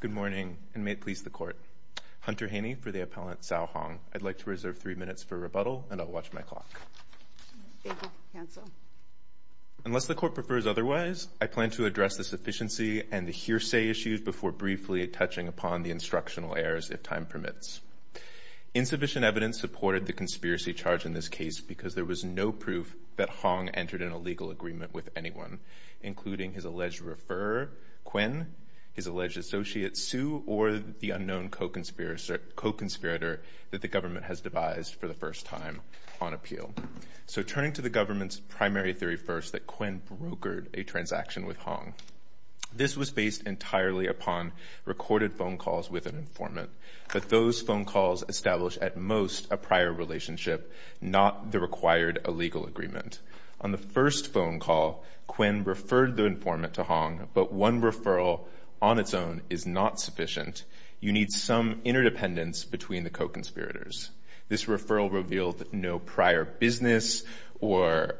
Good morning, and may it please the Court. Hunter Haney for the Appellant Cao Hong. I'd like to reserve three minutes for rebuttal, and I'll watch my clock. Thank you. Cancel. Unless the Court prefers otherwise, I plan to address the sufficiency and the hearsay issues before briefly touching upon the instructional errors, if time permits. Insufficient evidence supported the conspiracy charge in this case because there was no proof that Hong entered in a legal agreement with anyone, including his alleged referrer, Kuen, his alleged associate, Su, or the unknown co-conspirator that the government has devised for the first time on appeal. So turning to the government's primary theory first, that Kuen brokered a transaction with Hong. This was based entirely upon recorded phone calls with an informant, but those phone calls established at most a prior relationship, not the required a legal agreement. On the first phone call, Kuen referred the informant to Hong, but one referral on its own is not sufficient. You need some interdependence between the co-conspirators. This referral revealed no prior business or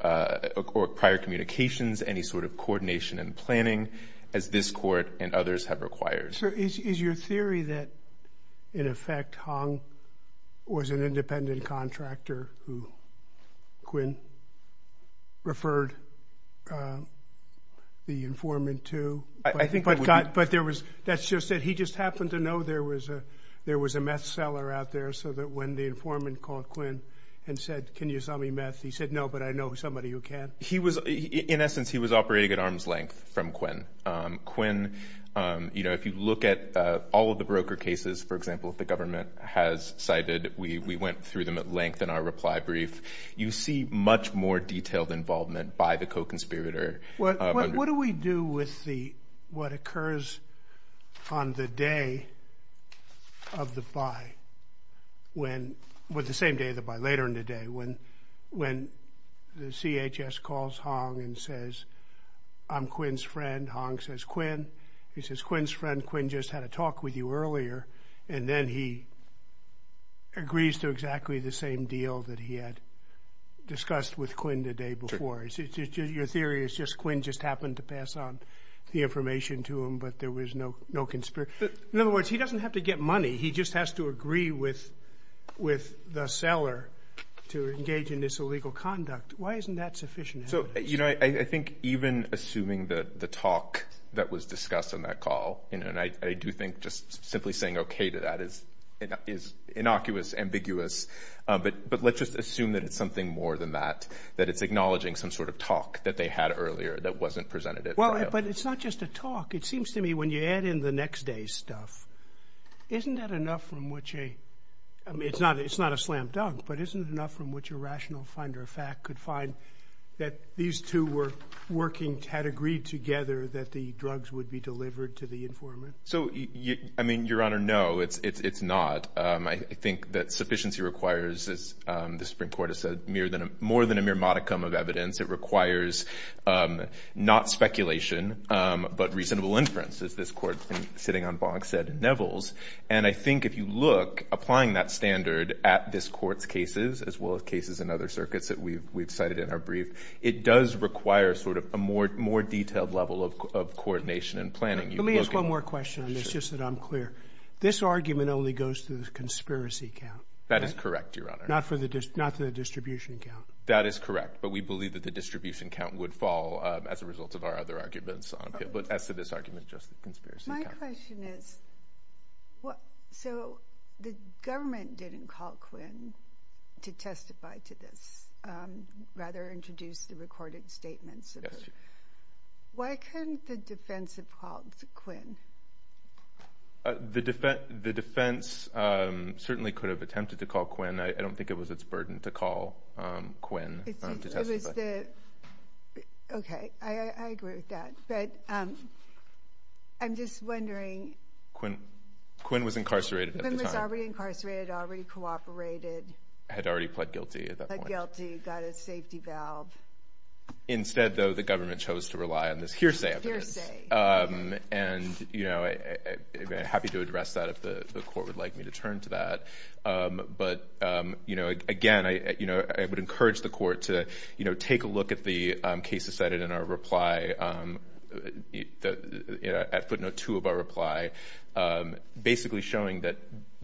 prior communications, any sort of coordination and planning, as this Court and others have required. So is your theory that, in effect, Hong was an independent contractor who Kuen referred the informant to? I think, but there was, that's just that he just happened to know there was a there was a meth seller out there, so that when the informant called Kuen and said, can you sell me meth, he said, no, but I know somebody who can. He was, in essence, he was operating at arm's length from Kuen. Kuen, you know, if you look at all of the broker cases, for example, if the government has cited, we went through them at length in our reply brief, you see much more detailed involvement by the co-conspirator. What do we do with the, what occurs on the day of the buy, when, with the same day of the buy, later in the day, when the CHS calls Hong and says, I'm Kuen's friend, Hong says, Kuen, he says, Kuen's friend, Kuen just had a talk with you earlier, and then he agrees to exactly the same deal that he had discussed with Kuen the day before. Your theory is just Kuen just happened to pass on the information to him, but there was no, no conspiracy. In other words, he doesn't have to get money, he just has to agree with, with the seller to engage in this illegal conduct. Why isn't that sufficient evidence? So, you know, I think even assuming that the talk that was discussed on that call, you know, and I do think just simply saying okay to that is, is innocuous, ambiguous, but, but let's just assume that it's something more than that, that it's acknowledging some sort of talk that they had earlier that wasn't presented at trial. Well, but it's not just a talk. It seems to me when you add in the next day's stuff, isn't that enough from which a, I rational finder of fact could find that these two were working, had agreed together that the drugs would be delivered to the informant? So, I mean, Your Honor, no, it's, it's, it's not. I think that sufficiency requires, as the Supreme Court has said, more than a mere modicum of evidence. It requires not speculation, but reasonable inference, as this Court sitting on Boggs said at Neville's, and I think if you look, applying that standard at this Court's cases, as well as cases in other circuits that we've, we've cited in our brief, it does require sort of a more, more detailed level of coordination and planning. Let me ask one more question on this, just that I'm clear. This argument only goes to the conspiracy count. That is correct, Your Honor. Not for the, not to the distribution count. That is correct, but we believe that the distribution count would fall as a result of our other arguments, but as to this argument, just the conspiracy count. My question is, what, so the government didn't call Quinn to testify to this, rather introduce the recorded statements of her. Why couldn't the defense have called Quinn? The defense, the defense certainly could have attempted to call Quinn. I don't think it was its burden to call Quinn to testify. It was the, okay, I, I agree with that, but I'm just wondering. Quinn, Quinn was incarcerated at the time. Quinn was already incarcerated, already cooperated. Had already pled guilty at that point. Pled guilty, got a safety valve. Instead, though, the government chose to rely on this hearsay evidence. Hearsay. And, you know, I'd be happy to address that if the, the court would like me to turn to that. But, you know, again, I, you know, I would encourage the court to, you know, take a look at the cases cited in our reply. The, you know, at footnote two of our reply. Basically showing that,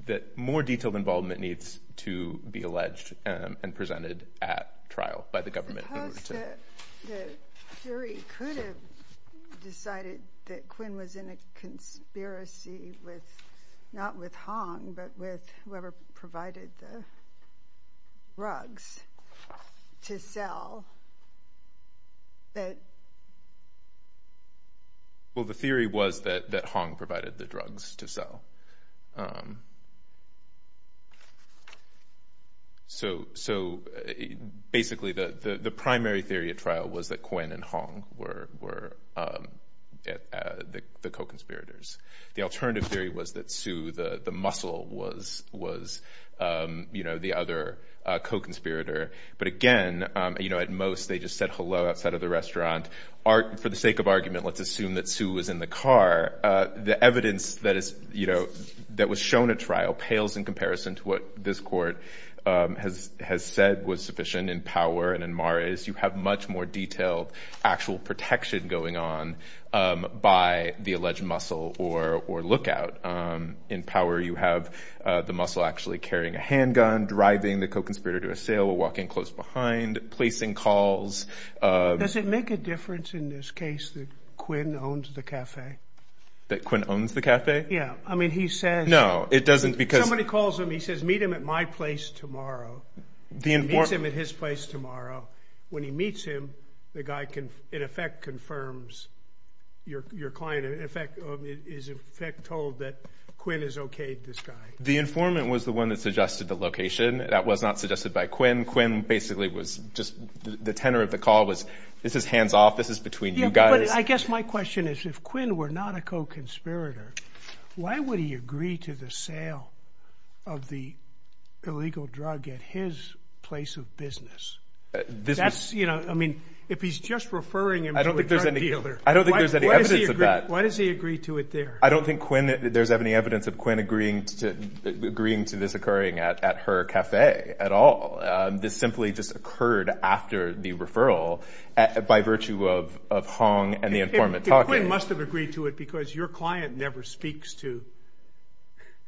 that more detailed involvement needs to be alleged and, and presented at trial by the government. Suppose that the jury could have decided that Quinn was in a conspiracy with, not with Hong, but with whoever provided the drugs to sell. That. Well, the theory was that, that Hong provided the drugs to sell. So, so, basically the, the, the primary theory at trial was that Quinn and Hong were, were at, at the co-conspirators. The alternative theory was that Sue, the, the muscle was, was you know, the other co-conspirator. But again, you know, at most they just said hello outside of the restaurant. Art, for the sake of argument, let's assume that Sue was in the car. The evidence that is, you know, that was shown at trial pales in comparison to what this court has, has said was sufficient in Power and in Power is you have much more detailed actual protection going on by the alleged muscle or, or lookout. In Power you have the muscle actually carrying a handgun, driving the co-conspirator to a sale, walking close behind, placing calls. Does it make a difference in this case that Quinn owns the cafe? That Quinn owns the cafe? Yeah, I mean he says. No, it doesn't because. Somebody calls him, he says meet him at my place tomorrow. The informant. He meets him at his place tomorrow. When he meets him, the guy can, in effect, confirms your, your client. In effect, is in fact told that Quinn is okayed, this guy. The informant was the one that suggested the location. That was not suggested by Quinn. Quinn basically was just, the tenor of the call was, this is hands-off, this is between you guys. I guess my question is if Quinn were not a co-conspirator, why would he agree to the sale of the illegal drug at his place of business? This is. That's, you know, I mean, if he's just referring him to a drug dealer. I don't think there's any evidence of that. Why does he agree to it there? I don't think Quinn, that there's any evidence of Quinn agreeing to, agreeing to this occurring at, at her cafe at all. This simply just occurred after the referral at, by virtue of, of Hong and the informant talking. If, if Quinn must have agreed to it because your client never speaks to.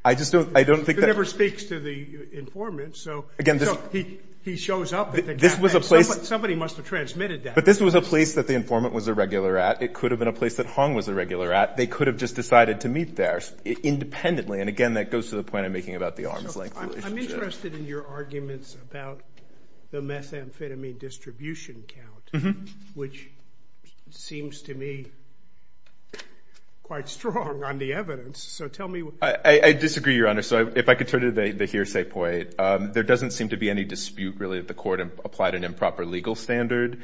I just don't, I don't think that. He never speaks to the informant, so. Again, this. So he, he shows up at the cafe. This was a place. Somebody must have transmitted that. But this was a place that the informant was a regular at. It could have been a place that Hong was a regular at. They could have just decided to meet there independently. And again, that goes to the point I'm making about the arm's length relationship. I'm interested in your arguments about the methamphetamine distribution count. Mm-hmm. Which seems to me quite strong on the evidence. So tell me what. I, I disagree, Your Honor. So if I could turn to the, the hearsay point. There doesn't seem to be any dispute, really, that the court applied an improper legal standard.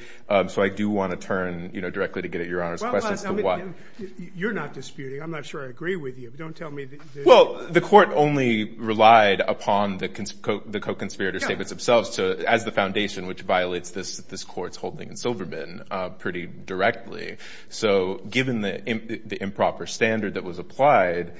So I do want to turn, you know, directly to get at Your Honor's question as to what. Well, you're not disputing. I'm not sure I agree with you. Don't tell me that. Well, the court only relied upon the, the co-conspirator statements themselves to, as the foundation, which violates this, this court's holding in Silverman, pretty directly. So given the, the improper standard that was applied,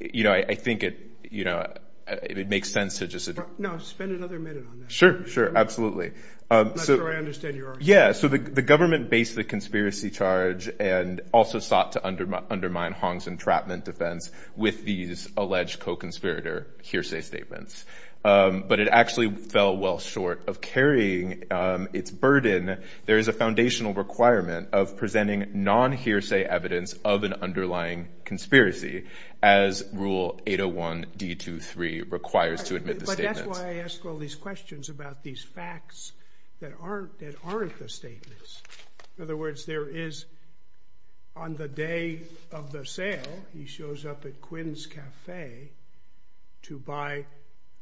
you know, I, I think it, you know, it makes sense to just. No, spend another minute on that. Sure, sure. Absolutely. I'm not sure I understand your argument. Yeah. So the, the government based the conspiracy charge and also sought to undermine, undermine Hong's entrapment defense with these alleged co-conspirator hearsay statements. But it actually fell well short of carrying its burden. There is a foundational requirement of presenting non-hearsay evidence of an underlying conspiracy as Rule 801 D23 requires to admit the statements. But that's why I ask all these questions about these facts that aren't, that aren't the statements. In other words, there is, on the day of the sale, he shows up at Quinn's Cafe to buy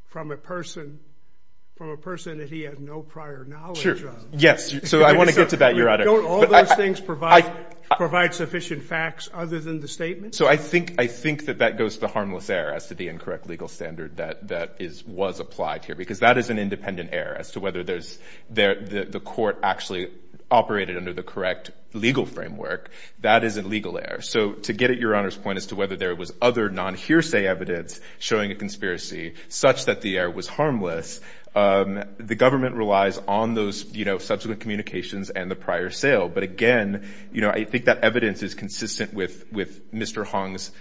from a person, from a person that he had no prior knowledge of. Sure. Yes. So I want to get to that, Your Honor. Don't all those things provide, provide sufficient facts other than the statements? So I think, I think that that goes to the harmless error as to the incorrect legal standard that, that is, was applied here. Because that is an independent error as to whether there's, the, the court actually operated under the correct legal framework. That is a legal error. So to get at Your Honor's point as to whether there was other non-hearsay evidence showing a conspiracy such that the error was harmless, the government relies on those, you know, subsequent communications and the prior sale. But again, you know, I think that evidence is consistent with, with Mr. Hong's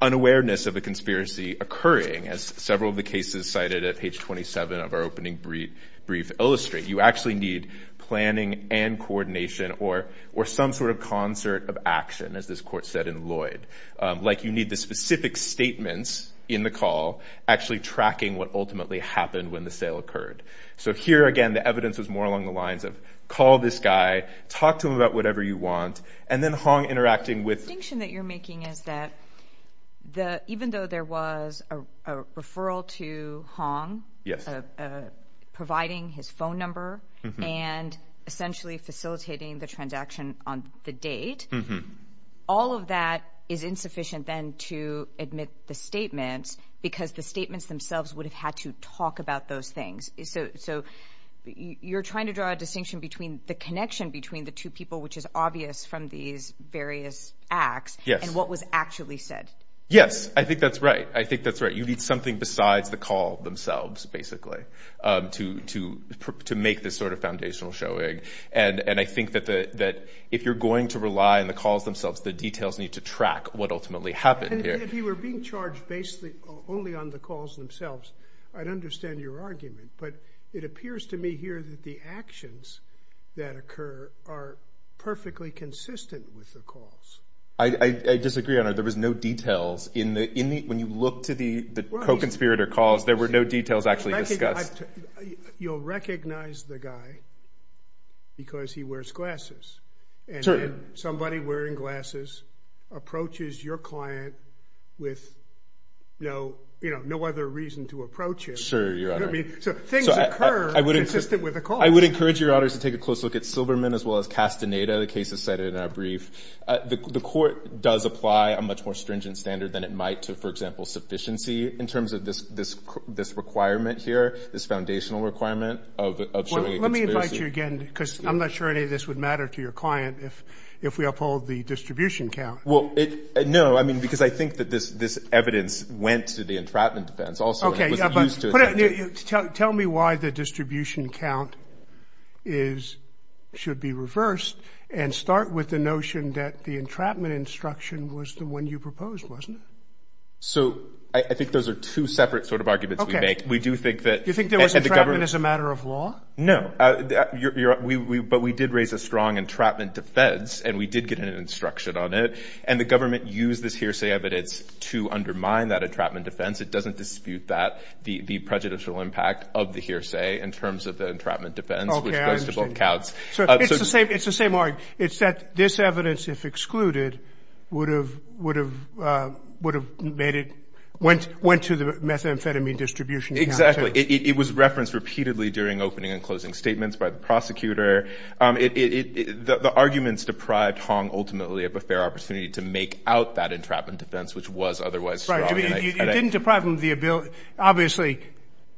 unawareness of a conspiracy occurring, as several of the cases cited at page 27 of our opening brief, brief illustrate. You actually need planning and coordination or, or some sort of concert of action, as this court said in Lloyd. Like you need the specific statements in the call actually tracking what ultimately happened when the sale occurred. So here again, the evidence is more along the lines of, call this guy, talk to him about whatever you want, and then Hong interacting with... The distinction that you're making is that the, even though there was a, a referral to Hong, providing his phone number and essentially facilitating the transaction on the date, all of that is insufficient then to admit the statements because the statements themselves would have had to talk about those things. So, so you're trying to draw a distinction between the connection between the two people, which is obvious from these various acts and what was actually said. Yes. I think that's right. I think that's right. You need something besides the call themselves basically, to, to, to make this sort of foundational showing. And, and I think that the, that if you're going to rely on the calls themselves, the details need to track what ultimately happened here. If you were being charged basically only on the calls themselves, I'd understand your argument, but it appears to me here that the actions that occur are perfectly consistent with the calls. I, I disagree on it. There was no details in the, in the, when you look to the, the co-conspirator calls, there were no details actually discussed. You'll recognize the guy because he wears glasses and then somebody wearing glasses approaches your client with no, you know, no other reason to approach it. Sure. I mean, so things occur consistent with the call. I would encourage your honors to take a close look at Silverman as well as Castaneda. The case is cited in our brief. The court does apply a much more stringent standard than it might to, for example, sufficiency in terms of this, this, this requirement here, this foundational requirement of, of showing a conspiracy. Let me invite you again, because I'm not sure any of this would matter to your client if, if we uphold the distribution count. Well, it, no, I mean, because I think that this, this evidence went to the entrapment defense also. Okay. But tell me why the distribution count is, should be reversed and start with the notion that the entrapment instruction was the one you proposed, wasn't it? So I think those are two separate sort of arguments we make. We do think that... You think there was entrapment as a matter of law? No. You're, we, we, but we did raise a strong entrapment defense and we did get an instruction on it and the government used this hearsay evidence to undermine that entrapment defense. It doesn't dispute that, the, the prejudicial impact of the hearsay in terms of the entrapment defense, which goes to both counts. So it's the same, it's the same argument. It's that this evidence, if excluded, would have, would have, would have made it, went, went to the methamphetamine distribution count. Exactly. It was referenced repeatedly during opening and closing statements by the prosecutor. It, it, the, the arguments deprived Hong ultimately of a fair opportunity to make out that entrapment defense, which was otherwise strong. It didn't deprive him of the ability, obviously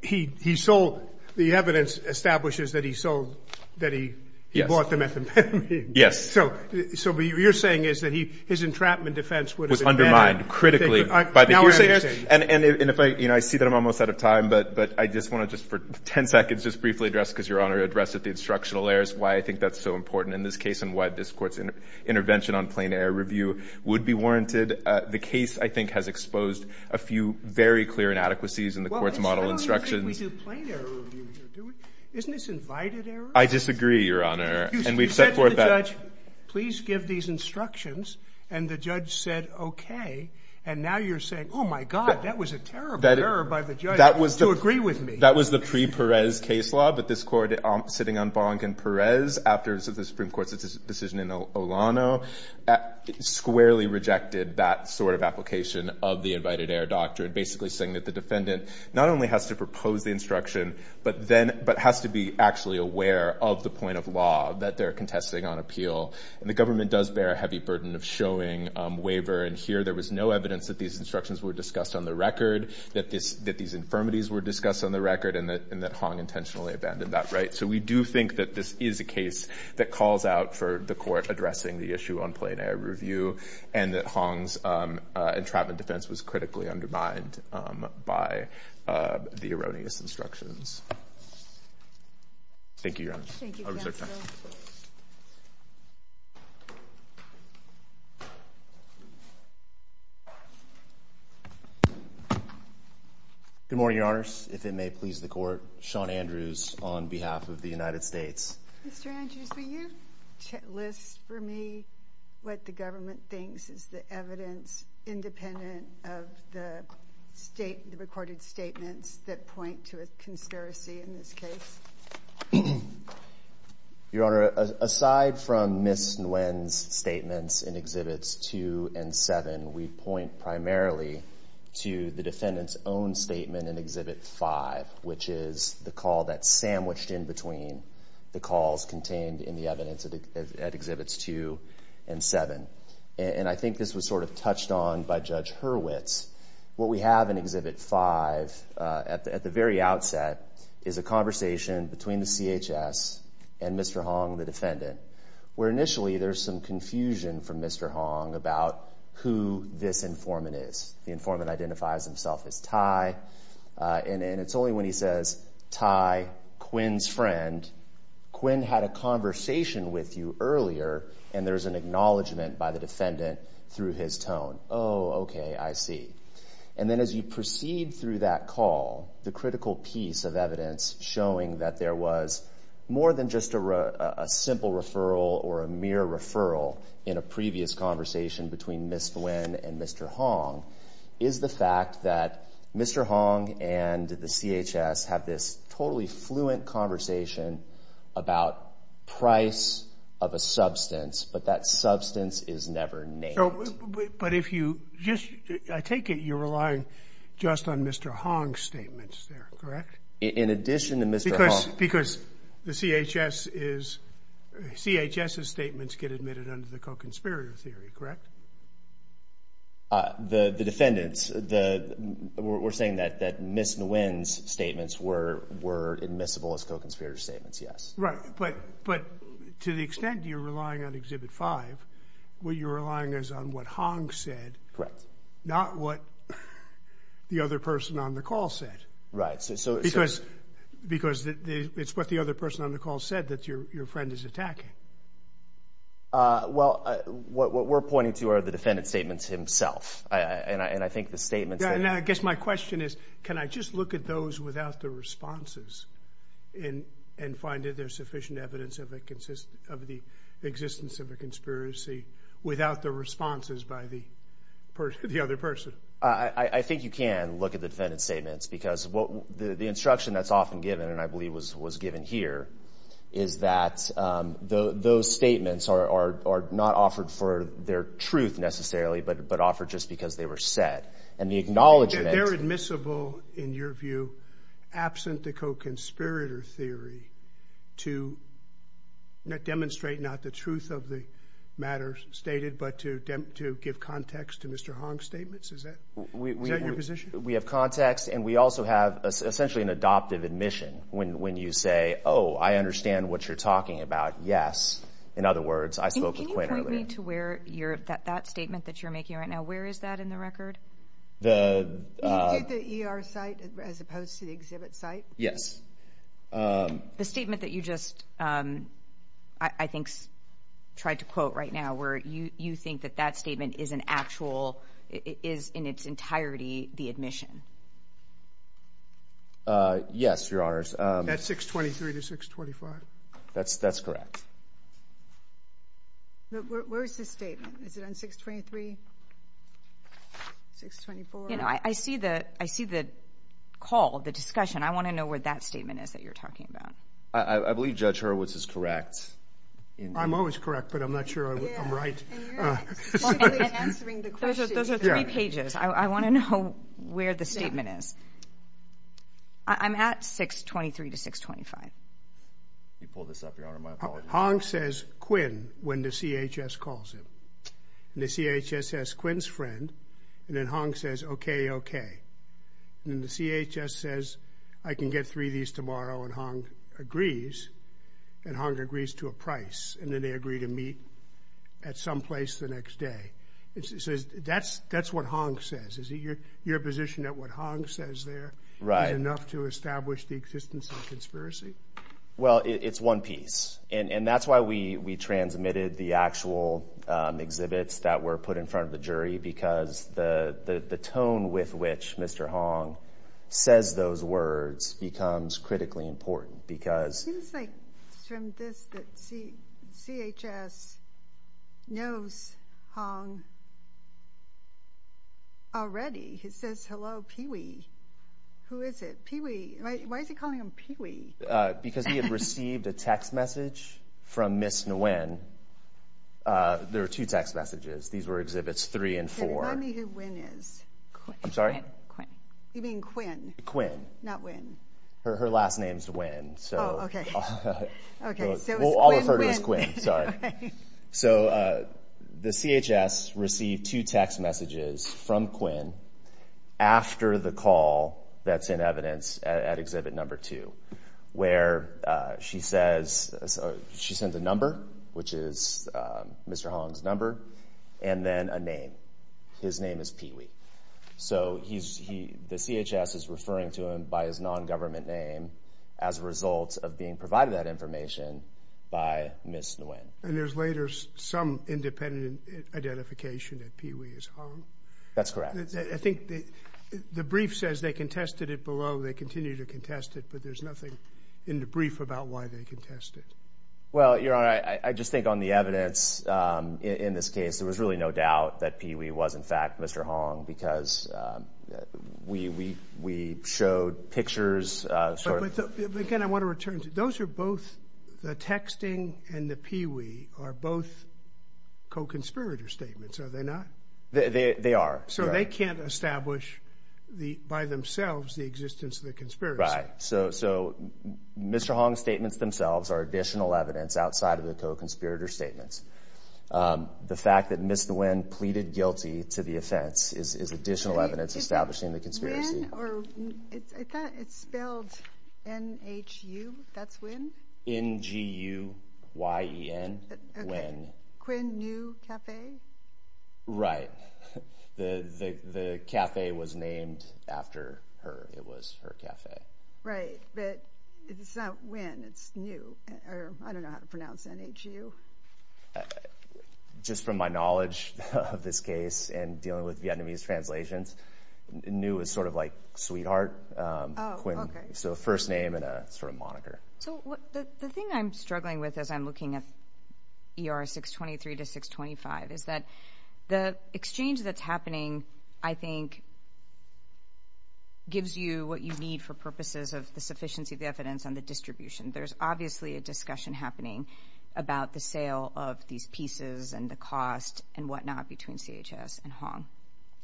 he, he sold, the evidence establishes that he sold, that he bought the methamphetamine. Yes. So, so what you're saying is that he, his entrapment defense would have... Was undermined critically by the hearsay. And, and if I, you know, I see that I'm almost out of time, but, but I just want to just for 10 seconds, just briefly address, because Your Honor addressed it, the instructional errors, why I think that's so important in this case, and why this court's intervention on plain error review would be warranted. The case, I think, has exposed a few very clear inadequacies in the court's model instructions. Well, it's not only that we do plain error review, isn't this invited error? I disagree, Your Honor. And we've set forth that... You said to the judge, please give these instructions. And the judge said, okay. And now you're saying, oh my God, that was a terrible error by the judge to agree with me. That was the pre-Perez case law, but this court sitting on Bonk and Perez after the Supreme Court's decision in Olano, squarely rejected that sort of application of the invited error doctrine. Basically saying that the defendant not only has to propose the instruction, but then, but has to be actually aware of the point of law that they're contesting on appeal. And the government does bear a heavy burden of showing waiver. And here there was no evidence that these instructions were discussed on the record, that this, that these infirmities were discussed on the record and that Hong intentionally abandoned that, right? So we do think that this is a case that calls out for the court addressing the issue on plain error review and that Hong's entrapment defense was critically undermined by the erroneous instructions. Thank you, Your Honor. I'll reserve time. Good morning, Your Honors. If it may please the court, Sean Andrews on behalf of the United States. Mr. Andrews, will you list for me what the government thinks is the evidence independent of the state, the recorded statements that point to a conspiracy in this case? Your Honor, aside from Ms. Nguyen's statements in Exhibits 2 and 7, we point primarily to the defendant's own statement in Exhibit 5, which is the call that's sandwiched in between the calls contained in the evidence at Exhibits 2 and 7. And I think this was sort of touched on by Judge Hurwitz. What we have in Exhibit 5 at the very outset is a conversation between the CHS and Mr. Hong, the defendant, where initially there's some confusion from Mr. Hong about who this informant is. The informant identifies himself as Ty, and it's only when he says, Ty, Quinn's friend. Quinn had a conversation with you earlier, and there's an acknowledgement by the defendant through his tone. Oh, okay, I see. And then as you proceed through that call, the critical piece of evidence showing that there was more than just a simple referral or a mere referral in a previous conversation between Ms. Nguyen and Mr. Hong is the fact that Mr. Hong and the CHS have this totally fluent conversation about price of a substance, but that substance is never named. I take it you're relying just on Mr. Hong's statements there, correct? In addition to Mr. Hong. Because the CHS's statements get admitted under the co-conspirator theory, correct? The defendant's. We're saying that Ms. Nguyen's statements were admissible as co-conspirator statements, yes. Right, but to the extent you're relying on Exhibit 5, what you're relying is on what Hong said, not what the other person on the call said. Right. Because it's what the other person on the call said that your friend is attacking. Well, what we're pointing to are the defendant's statements himself, and I think the statements that... Yeah, and I guess my question is, can I just look at those without the responses and find that there's sufficient evidence of the existence of a conspiracy without the responses by the other person? I think you can look at the defendant's statements because the instruction that's often given, and I believe was given here, is that those statements are not offered for their truth necessarily, but offered just because they were said. And the acknowledgement... They're admissible in your view, absent the co-conspirator theory, to demonstrate not the truth of the matters stated, but to give context to Mr. Hong's statements? Is that your position? We have context, and we also have essentially an adoptive admission. When you say, oh, I understand what you're talking about, yes. In other words, I spoke with Quinn earlier. To where that statement that you're making right now, where is that in the record? You take the ER site as opposed to the exhibit site? Yes. The statement that you just, I think, tried to quote right now, where you think that that statement is in its entirety the admission? Yes, your honors. That's 623 to 625. That's correct. Where is this statement? Is it on 623? 624? You know, I see the call, the discussion. I want to know where that statement is that you're talking about. I believe Judge Hurwitz is correct. I'm always correct, but I'm not sure I'm right. Those are three pages. I want to know where the statement is. I'm at 623 to 625. Pull this up, your honor. My apologies. Hong says Quinn when the CHS calls him. The CHS says Quinn's friend, and then Hong says, okay, okay. Then the CHS says, I can get three of these tomorrow, and Hong agrees. Hong agrees to a price, and then they agree to meet at some place the next day. That's what Hong says. Is it your position that what Hong says there is enough to establish the existence of conspiracy? Well, it's one piece, and that's why we transmitted the actual exhibits that were put in front of the jury, because the tone with which Mr. Hong says those words becomes critically important. It seems like it's from this that CHS knows Hong already. He says, hello, Pee-wee. Who is it? Pee-wee. Why is he calling him Pee-wee? Because he had received a text message from Ms. Nguyen. There were two text messages. These were Exhibits 3 and 4. Tell me who Nguyen is. I'm sorry? Quinn. You mean Quinn? Quinn. Not Nguyen. Her last name's Nguyen. Oh, okay. I'll refer to it as Quinn. Sorry. The CHS received two text messages from Quinn after the call that's in evidence at Exhibit Number 2, where she sends a number, which is Mr. Hong's number, and then a name. His name is Pee-wee. So the CHS is referring to him by his non-government name as a result of being provided that information by Ms. Nguyen. And there's later some independent identification that Pee-wee is Hong. That's correct. I think the brief says they contested it below. They continue to contest it, but there's nothing in the brief about why they contested. Well, Your Honor, I just think on the evidence in this case, there was really no doubt that Pee-wee was, in fact, Mr. Hong because we showed pictures. Again, I want to return to those are both the texting and the Pee-wee are both co-conspirator statements, are they not? They are. So they can't establish by themselves the existence of the conspiracy. Right. So Mr. Hong's statements themselves are additional evidence outside of the co-conspirator statements. The fact that Ms. Nguyen pleaded guilty to the offense is additional evidence establishing the conspiracy. Is it Nguyen or I thought it spelled N-H-U, that's Nguyen? N-G-U-Y-E-N, Nguyen. Quinn New Cafe? Right. The cafe was named after her. It was her cafe. Right. But it's not Nguyen, it's Nguyen. I don't know how to pronounce N-H-U. Just from my knowledge of this case and dealing with Vietnamese translations, Nguyen is sort of like sweetheart, so first name and a sort of moniker. So the thing I'm struggling with as I'm looking at ER 623 to 625 is that the exchange that's happening, I think, gives you what you need for purposes of the sufficiency of the evidence on the distribution. There's obviously a discussion happening about the sale of these pieces and the cost and whatnot between CHS and Hong.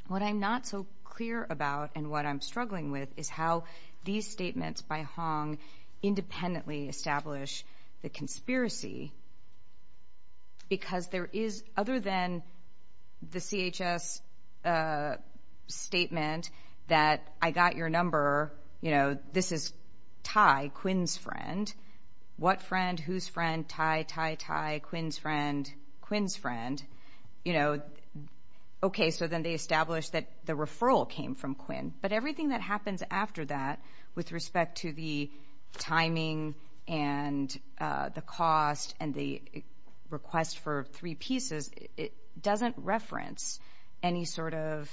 What I'm not so clear about and what I'm struggling with is how these statements by Hong independently establish the conspiracy. Because there is, other than the CHS statement that I got your number, this is Tai, Quinn's friend. What friend, whose friend, Tai, Tai, Tai, Quinn's friend, Quinn's friend. You know, okay, so then they established that the referral came from Quinn. But everything that happens after that with respect to the timing and the cost and the request for three pieces, it doesn't reference any sort of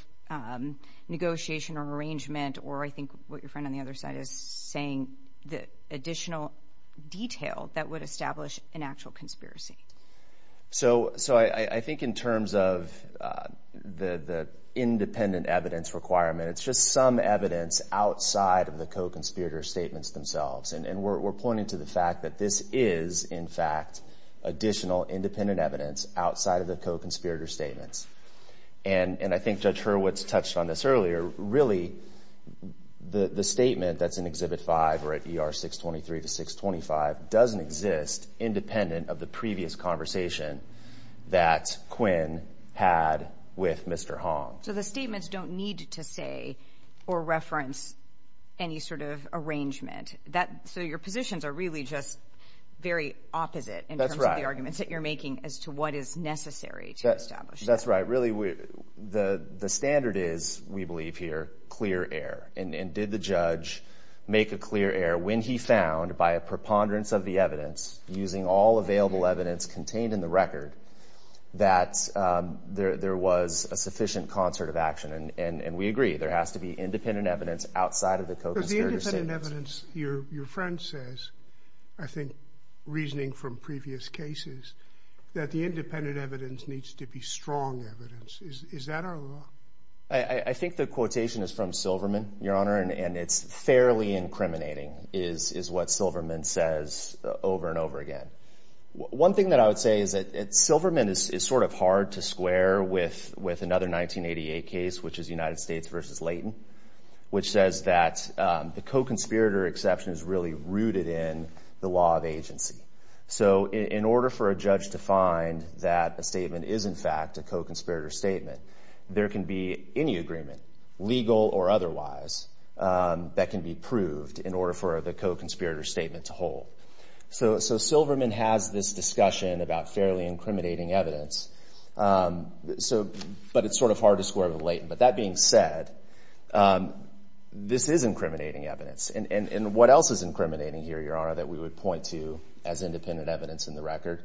negotiation or arrangement or I think what your friend on the other side is saying, the additional detail that would establish an actual conspiracy. So I think in terms of the independent evidence requirement, it's just some evidence outside of the co-conspirator statements themselves. And we're pointing to the fact that this is, in fact, additional independent evidence outside of the co-conspirator statements. And I think Judge Hurwitz touched on this earlier. Really, the statement that's in Exhibit 5 or at the previous conversation that Quinn had with Mr. Hong. So the statements don't need to say or reference any sort of arrangement. So your positions are really just very opposite in terms of the arguments that you're making as to what is necessary to establish that. That's right. Really, the standard is, we believe here, clear air. And did the judge make a clear air when he found, by a preponderance of the evidence, using all available evidence contained in the record, that there was a sufficient concert of action? And we agree, there has to be independent evidence outside of the co-conspirator statements. But the independent evidence, your friend says, I think, reasoning from previous cases, that the independent evidence needs to be strong evidence. Is that our law? I think the quotation is from Silverman, Your Honor, and it's fairly incriminating, is what Silverman says over and over again. One thing that I would say is that Silverman is sort of hard to square with another 1988 case, which is United States v. Leighton, which says that the co-conspirator exception is really rooted in the law of agency. So in order for a judge to find that a statement is, in fact, a co-conspirator statement, there can be any agreement, legal or otherwise, that can be proved in order for the co-conspirator statement to hold. So Silverman has this discussion about fairly incriminating evidence, but it's sort of hard to square with Leighton. But that being said, this is incriminating evidence. And what else is incriminating here, Your Honor, that we would point to as independent evidence in the record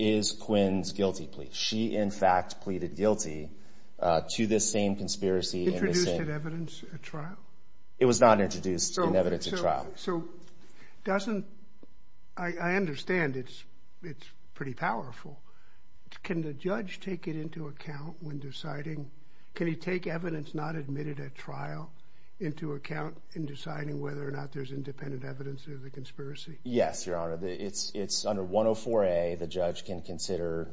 is Quinn's guilty plea. She, in fact, pleaded guilty to this same conspiracy. Introduced that evidence at trial? It was not introduced in evidence at trial. So doesn't, I understand it's pretty powerful. Can the judge take it into account when deciding, can he take evidence not admitted at trial into account in deciding whether or not there's independent evidence of the conspiracy? Yes, Your Honor. It's under 104A, the judge can consider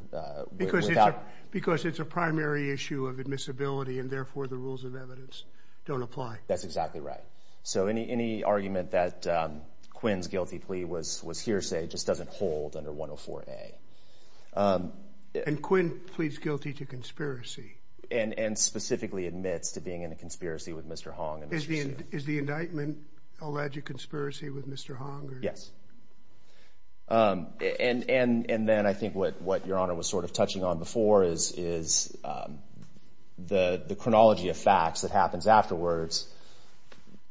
without... Because it's a primary issue of admissibility and therefore the rules of evidence don't apply. That's exactly right. So any argument that Quinn's guilty plea was hearsay just doesn't hold under 104A. And Quinn pleads guilty to conspiracy? And specifically admits to being in a conspiracy with Mr. Hong. Is the indictment alleged conspiracy with Mr. Hong? Yes. And then I think what Your Honor was sort of touching on before is the chronology of facts that happens afterwards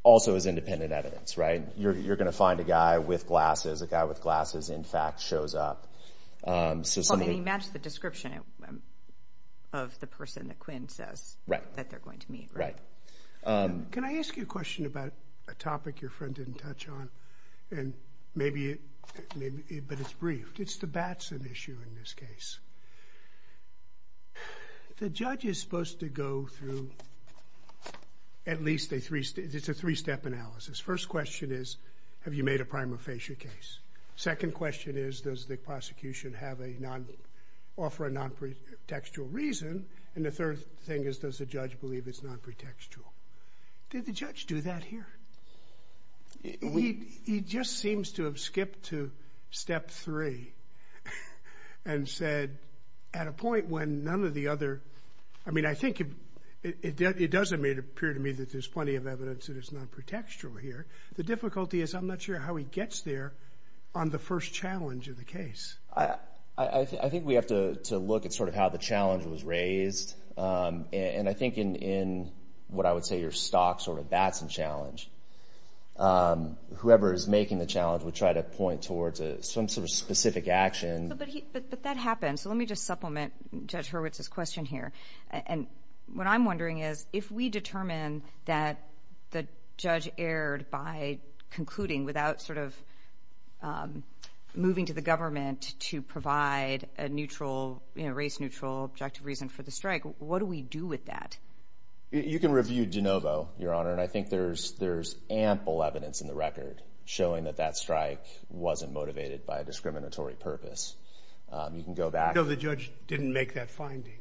also is independent evidence, right? You're going to find a guy with glasses, a guy with glasses in fact shows up. Well, they match the description of the person that Quinn says that they're going to meet, right? Can I ask you a question about a topic your friend didn't touch on and maybe... But it's brief. It's the Batson issue in this case. The judge is supposed to go through at least a three... It's a three-step analysis. First question is, have you made a prima facie case? Second question is, does the prosecution have a non... offer a non-pretextual reason? And the third thing is, does the judge believe it's non-pretextual? Did the judge do that here? He just seems to have skipped to step three and said, at a point when none of the other... I mean, I think it doesn't appear to me that there's plenty of evidence that is non-pretextual here. The difficulty is I'm not sure how he gets there on the first challenge of the case. I think we have to look at sort of how the challenge was raised. And I think in what I would say your stock sort of Batson challenge, whoever is making the challenge would try to point towards some sort of specific action. But that happened. So let me just supplement Judge Hurwitz's question here. And what I'm wondering is, if we determine that the judge erred by concluding without sort of moving to the government to provide a neutral, race-neutral objective reason for the strike, what do we do with that? You can review DeNovo, Your Honor. And I think there's ample evidence in the record showing that that strike wasn't motivated by a discriminatory purpose. You can go back... So the judge didn't make that finding?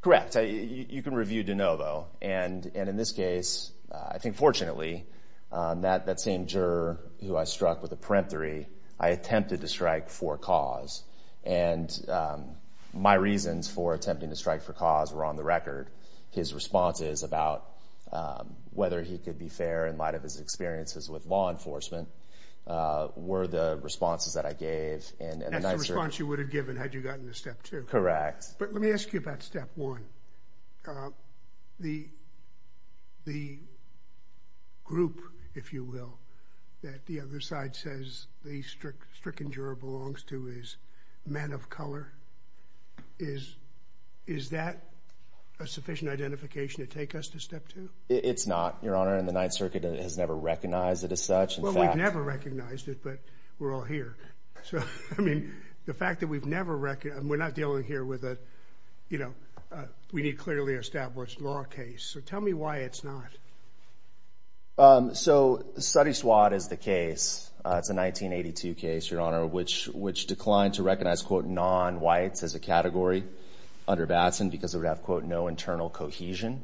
Correct. You can review DeNovo. And in this case, I think fortunately, that same juror who I struck with a peremptory, I attempted to strike for cause. And my reasons for attempting to strike for cause were on the record. His responses about whether he could be fair in light of his experiences with law enforcement were the responses that I gave. And that's the response you would have given had you gotten to Step 2. Correct. But let me ask you about Step 1. The group, if you will, that the other side says the stricken juror belongs to is men of color. Is that a sufficient identification to take us to Step 2? It's not, Your Honor. And the Ninth Circuit has never recognized it as such. Well, we've never recognized it, but we're all here. So I mean, the fact that we've never recognized it, we're not dealing here with a, you know, we need clearly established law case. So tell me why it's not. So Sotyswad is the case. It's a 1982 case, Your Honor, which declined to recognize, quote, non-whites as a category under Batson because it would have, quote, no internal cohesion.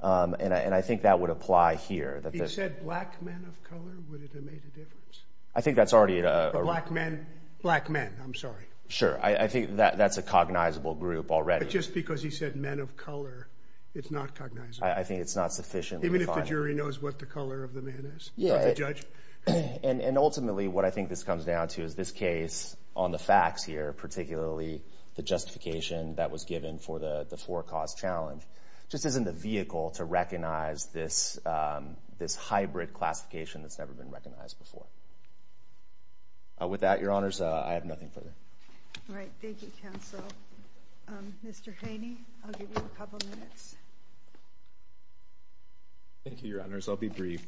And I think that would apply here. He said black men of color? Would it have made a difference? I think that's already a... Black men. Black men. I'm sorry. Sure. I think that's a cognizable group already. But just because he said men of color, it's not cognizable. I think it's not sufficient. Even if the jury knows what the color of the man is? Yeah. And ultimately, what I think this comes down to is this case on the facts here, particularly the justification that was given for the four cause challenge, just isn't the vehicle to recognize this hybrid classification that's never been recognized before. With that, Your Honors, I have nothing further. All right. Thank you, counsel. Mr. Haney, I'll give you a couple minutes. Thank you, Your Honors. I'll be brief.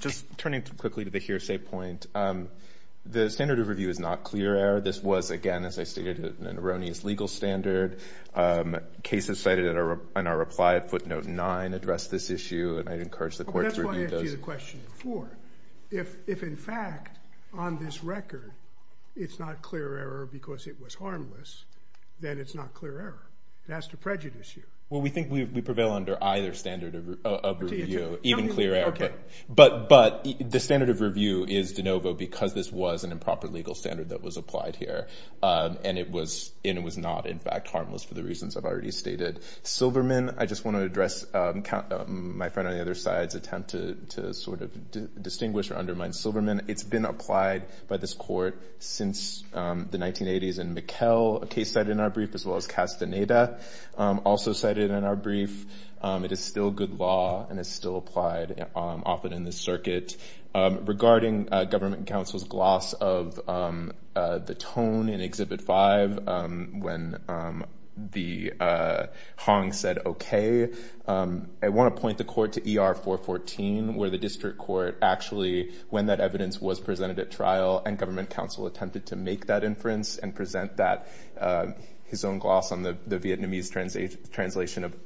Just turning quickly to the hearsay point, the standard of review is not clear error. This was, again, as I stated, an erroneous legal standard. Cases cited in our reply, footnote nine, address this issue. And I'd encourage the question before. If, in fact, on this record, it's not clear error because it was harmless, then it's not clear error. It has to prejudice you. Well, we think we prevail under either standard of review, even clear error. But the standard of review is de novo because this was an improper legal standard that was applied here. And it was not, in fact, harmless for the reasons I've already stated. Silverman, I just want to address my friend on the other side's attempt to sort of distinguish or undermine Silverman. It's been applied by this court since the 1980s. And Mikkel, a case cited in our brief, as well as Castaneda, also cited in our brief. It is still good law and is still applied often in this circuit. Regarding government counsel's gloss of the tone in Exhibit 5, when the Hong said, OK, I want to point the court to ER 414, where the district court actually, when that evidence was presented at trial, and government counsel attempted to make that inference and present that, his own gloss on the Vietnamese translation of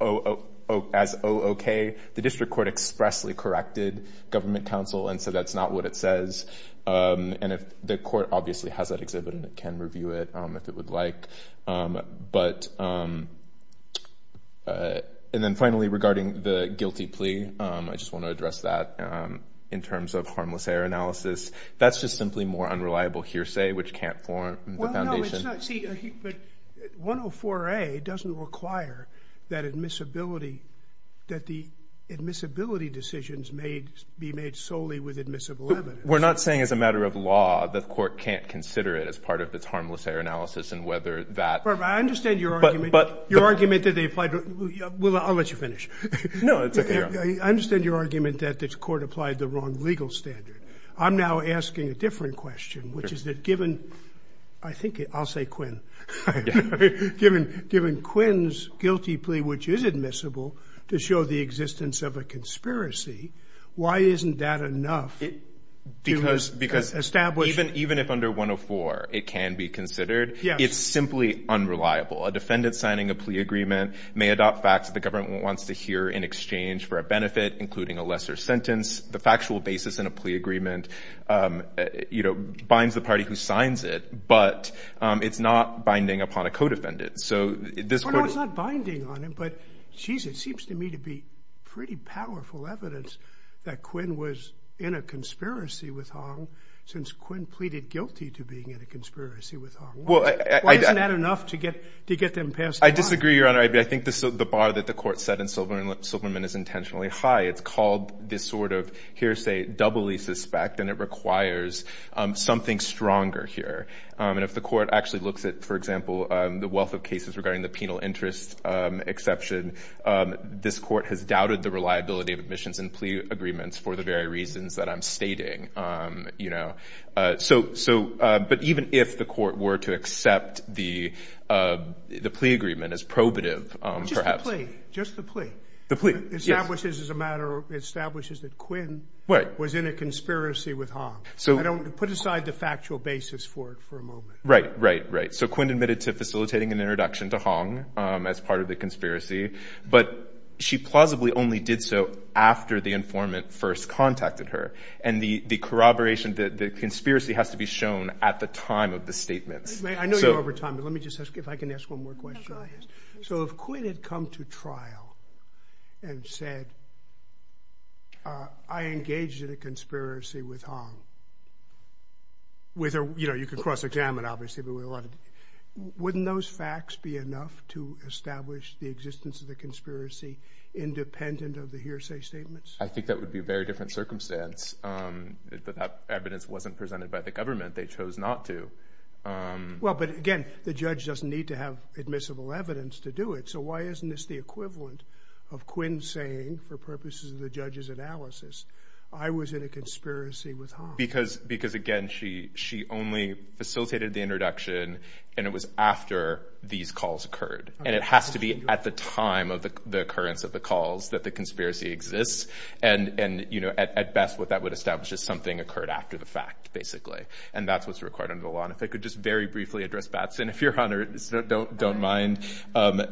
as OK, the district court expressly corrected government counsel and said, that's not what it says. And if the court obviously has that exhibit and it can review it if it would like. And then finally, regarding the guilty plea, I just want to address that in terms of harmless error analysis. That's just simply more unreliable hearsay, which can't form the foundation. But 104A doesn't require that admissibility, that the admissibility decisions may be made solely with admissible evidence. We're not saying as a matter of law that the court can't consider it as part of its harmless error analysis and whether that... But I understand your argument that they applied... I'll let you finish. No, it's OK. I understand your argument that the court applied the wrong legal standard. I'm now asking a different question, which is that given, I think I'll say Quinn, given Quinn's guilty plea, which is admissible, to show the existence of a conspiracy, why isn't that enough to establish... Because even if under 104 it can be considered, it's simply unreliable. A defendant signing a plea agreement may adopt facts that the government wants to hear in exchange for a benefit, including a lesser sentence. The factual basis in a plea agreement, you know, binds the party who signs it, but it's not binding upon a co-defendant. It's not binding on him, but it seems to me to be pretty powerful evidence that Quinn was in a conspiracy with Hong since Quinn pleaded guilty to being in a conspiracy with Hong. Why isn't that enough to get them past the line? I disagree, Your Honor. I think the bar that the court set in Silverman is intentionally high. It's called this sort of hearsay doubly suspect, and it requires something stronger here. And if the court actually looks at, for example, the wealth of cases regarding the penal interest exception, this court has doubted the reliability of admissions and plea agreements for the very reasons that I'm stating, you know. But even if the court were to accept the plea agreement as probative, perhaps... Just the plea. The plea, yes. Establishes as a matter, establishes that Quinn was in a conspiracy with Hong. So... Provide the factual basis for it for a moment. Right, right, right. So Quinn admitted to facilitating an introduction to Hong as part of the conspiracy, but she plausibly only did so after the informant first contacted her. And the corroboration, the conspiracy has to be shown at the time of the statements. I know you're over time, but let me just ask if I can ask one more question on this. So if Quinn had come to trial and said, well, I engaged in a conspiracy with Hong, with her, you know, you could cross examine, obviously, but we wanted... Wouldn't those facts be enough to establish the existence of the conspiracy independent of the hearsay statements? I think that would be a very different circumstance. If that evidence wasn't presented by the government, they chose not to. Well, but again, the judge doesn't need to have admissible evidence to do it. So why isn't this the equivalent of Quinn saying, for purposes of the judge's analysis, I was in a conspiracy with Hong? Because, again, she only facilitated the introduction and it was after these calls occurred. And it has to be at the time of the occurrence of the calls that the conspiracy exists. And, you know, at best, what that would establish is something occurred after the fact, basically. And that's what's required under the law. And if I could just very briefly address Batson, if you're honored, don't mind.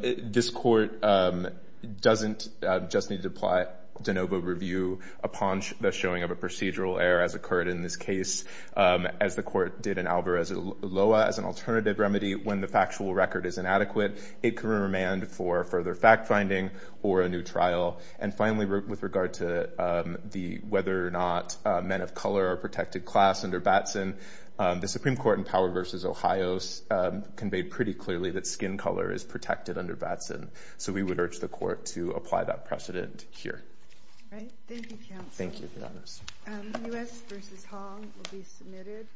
This court doesn't just need to apply de novo review upon the showing of a procedural error as occurred in this case, as the court did in Alvarez Loa as an alternative remedy. When the factual record is inadequate, it can remand for further fact finding or a new trial. And finally, with regard to whether or not men of color are protected class under Batson, the Supreme Court in Power v. Ohio conveyed pretty clearly that skin color is protected under Batson. So we would urge the court to apply that precedent here. All right. Thank you, counsel. Thank you, Your Honor. U.S. v. Hong will be submitted.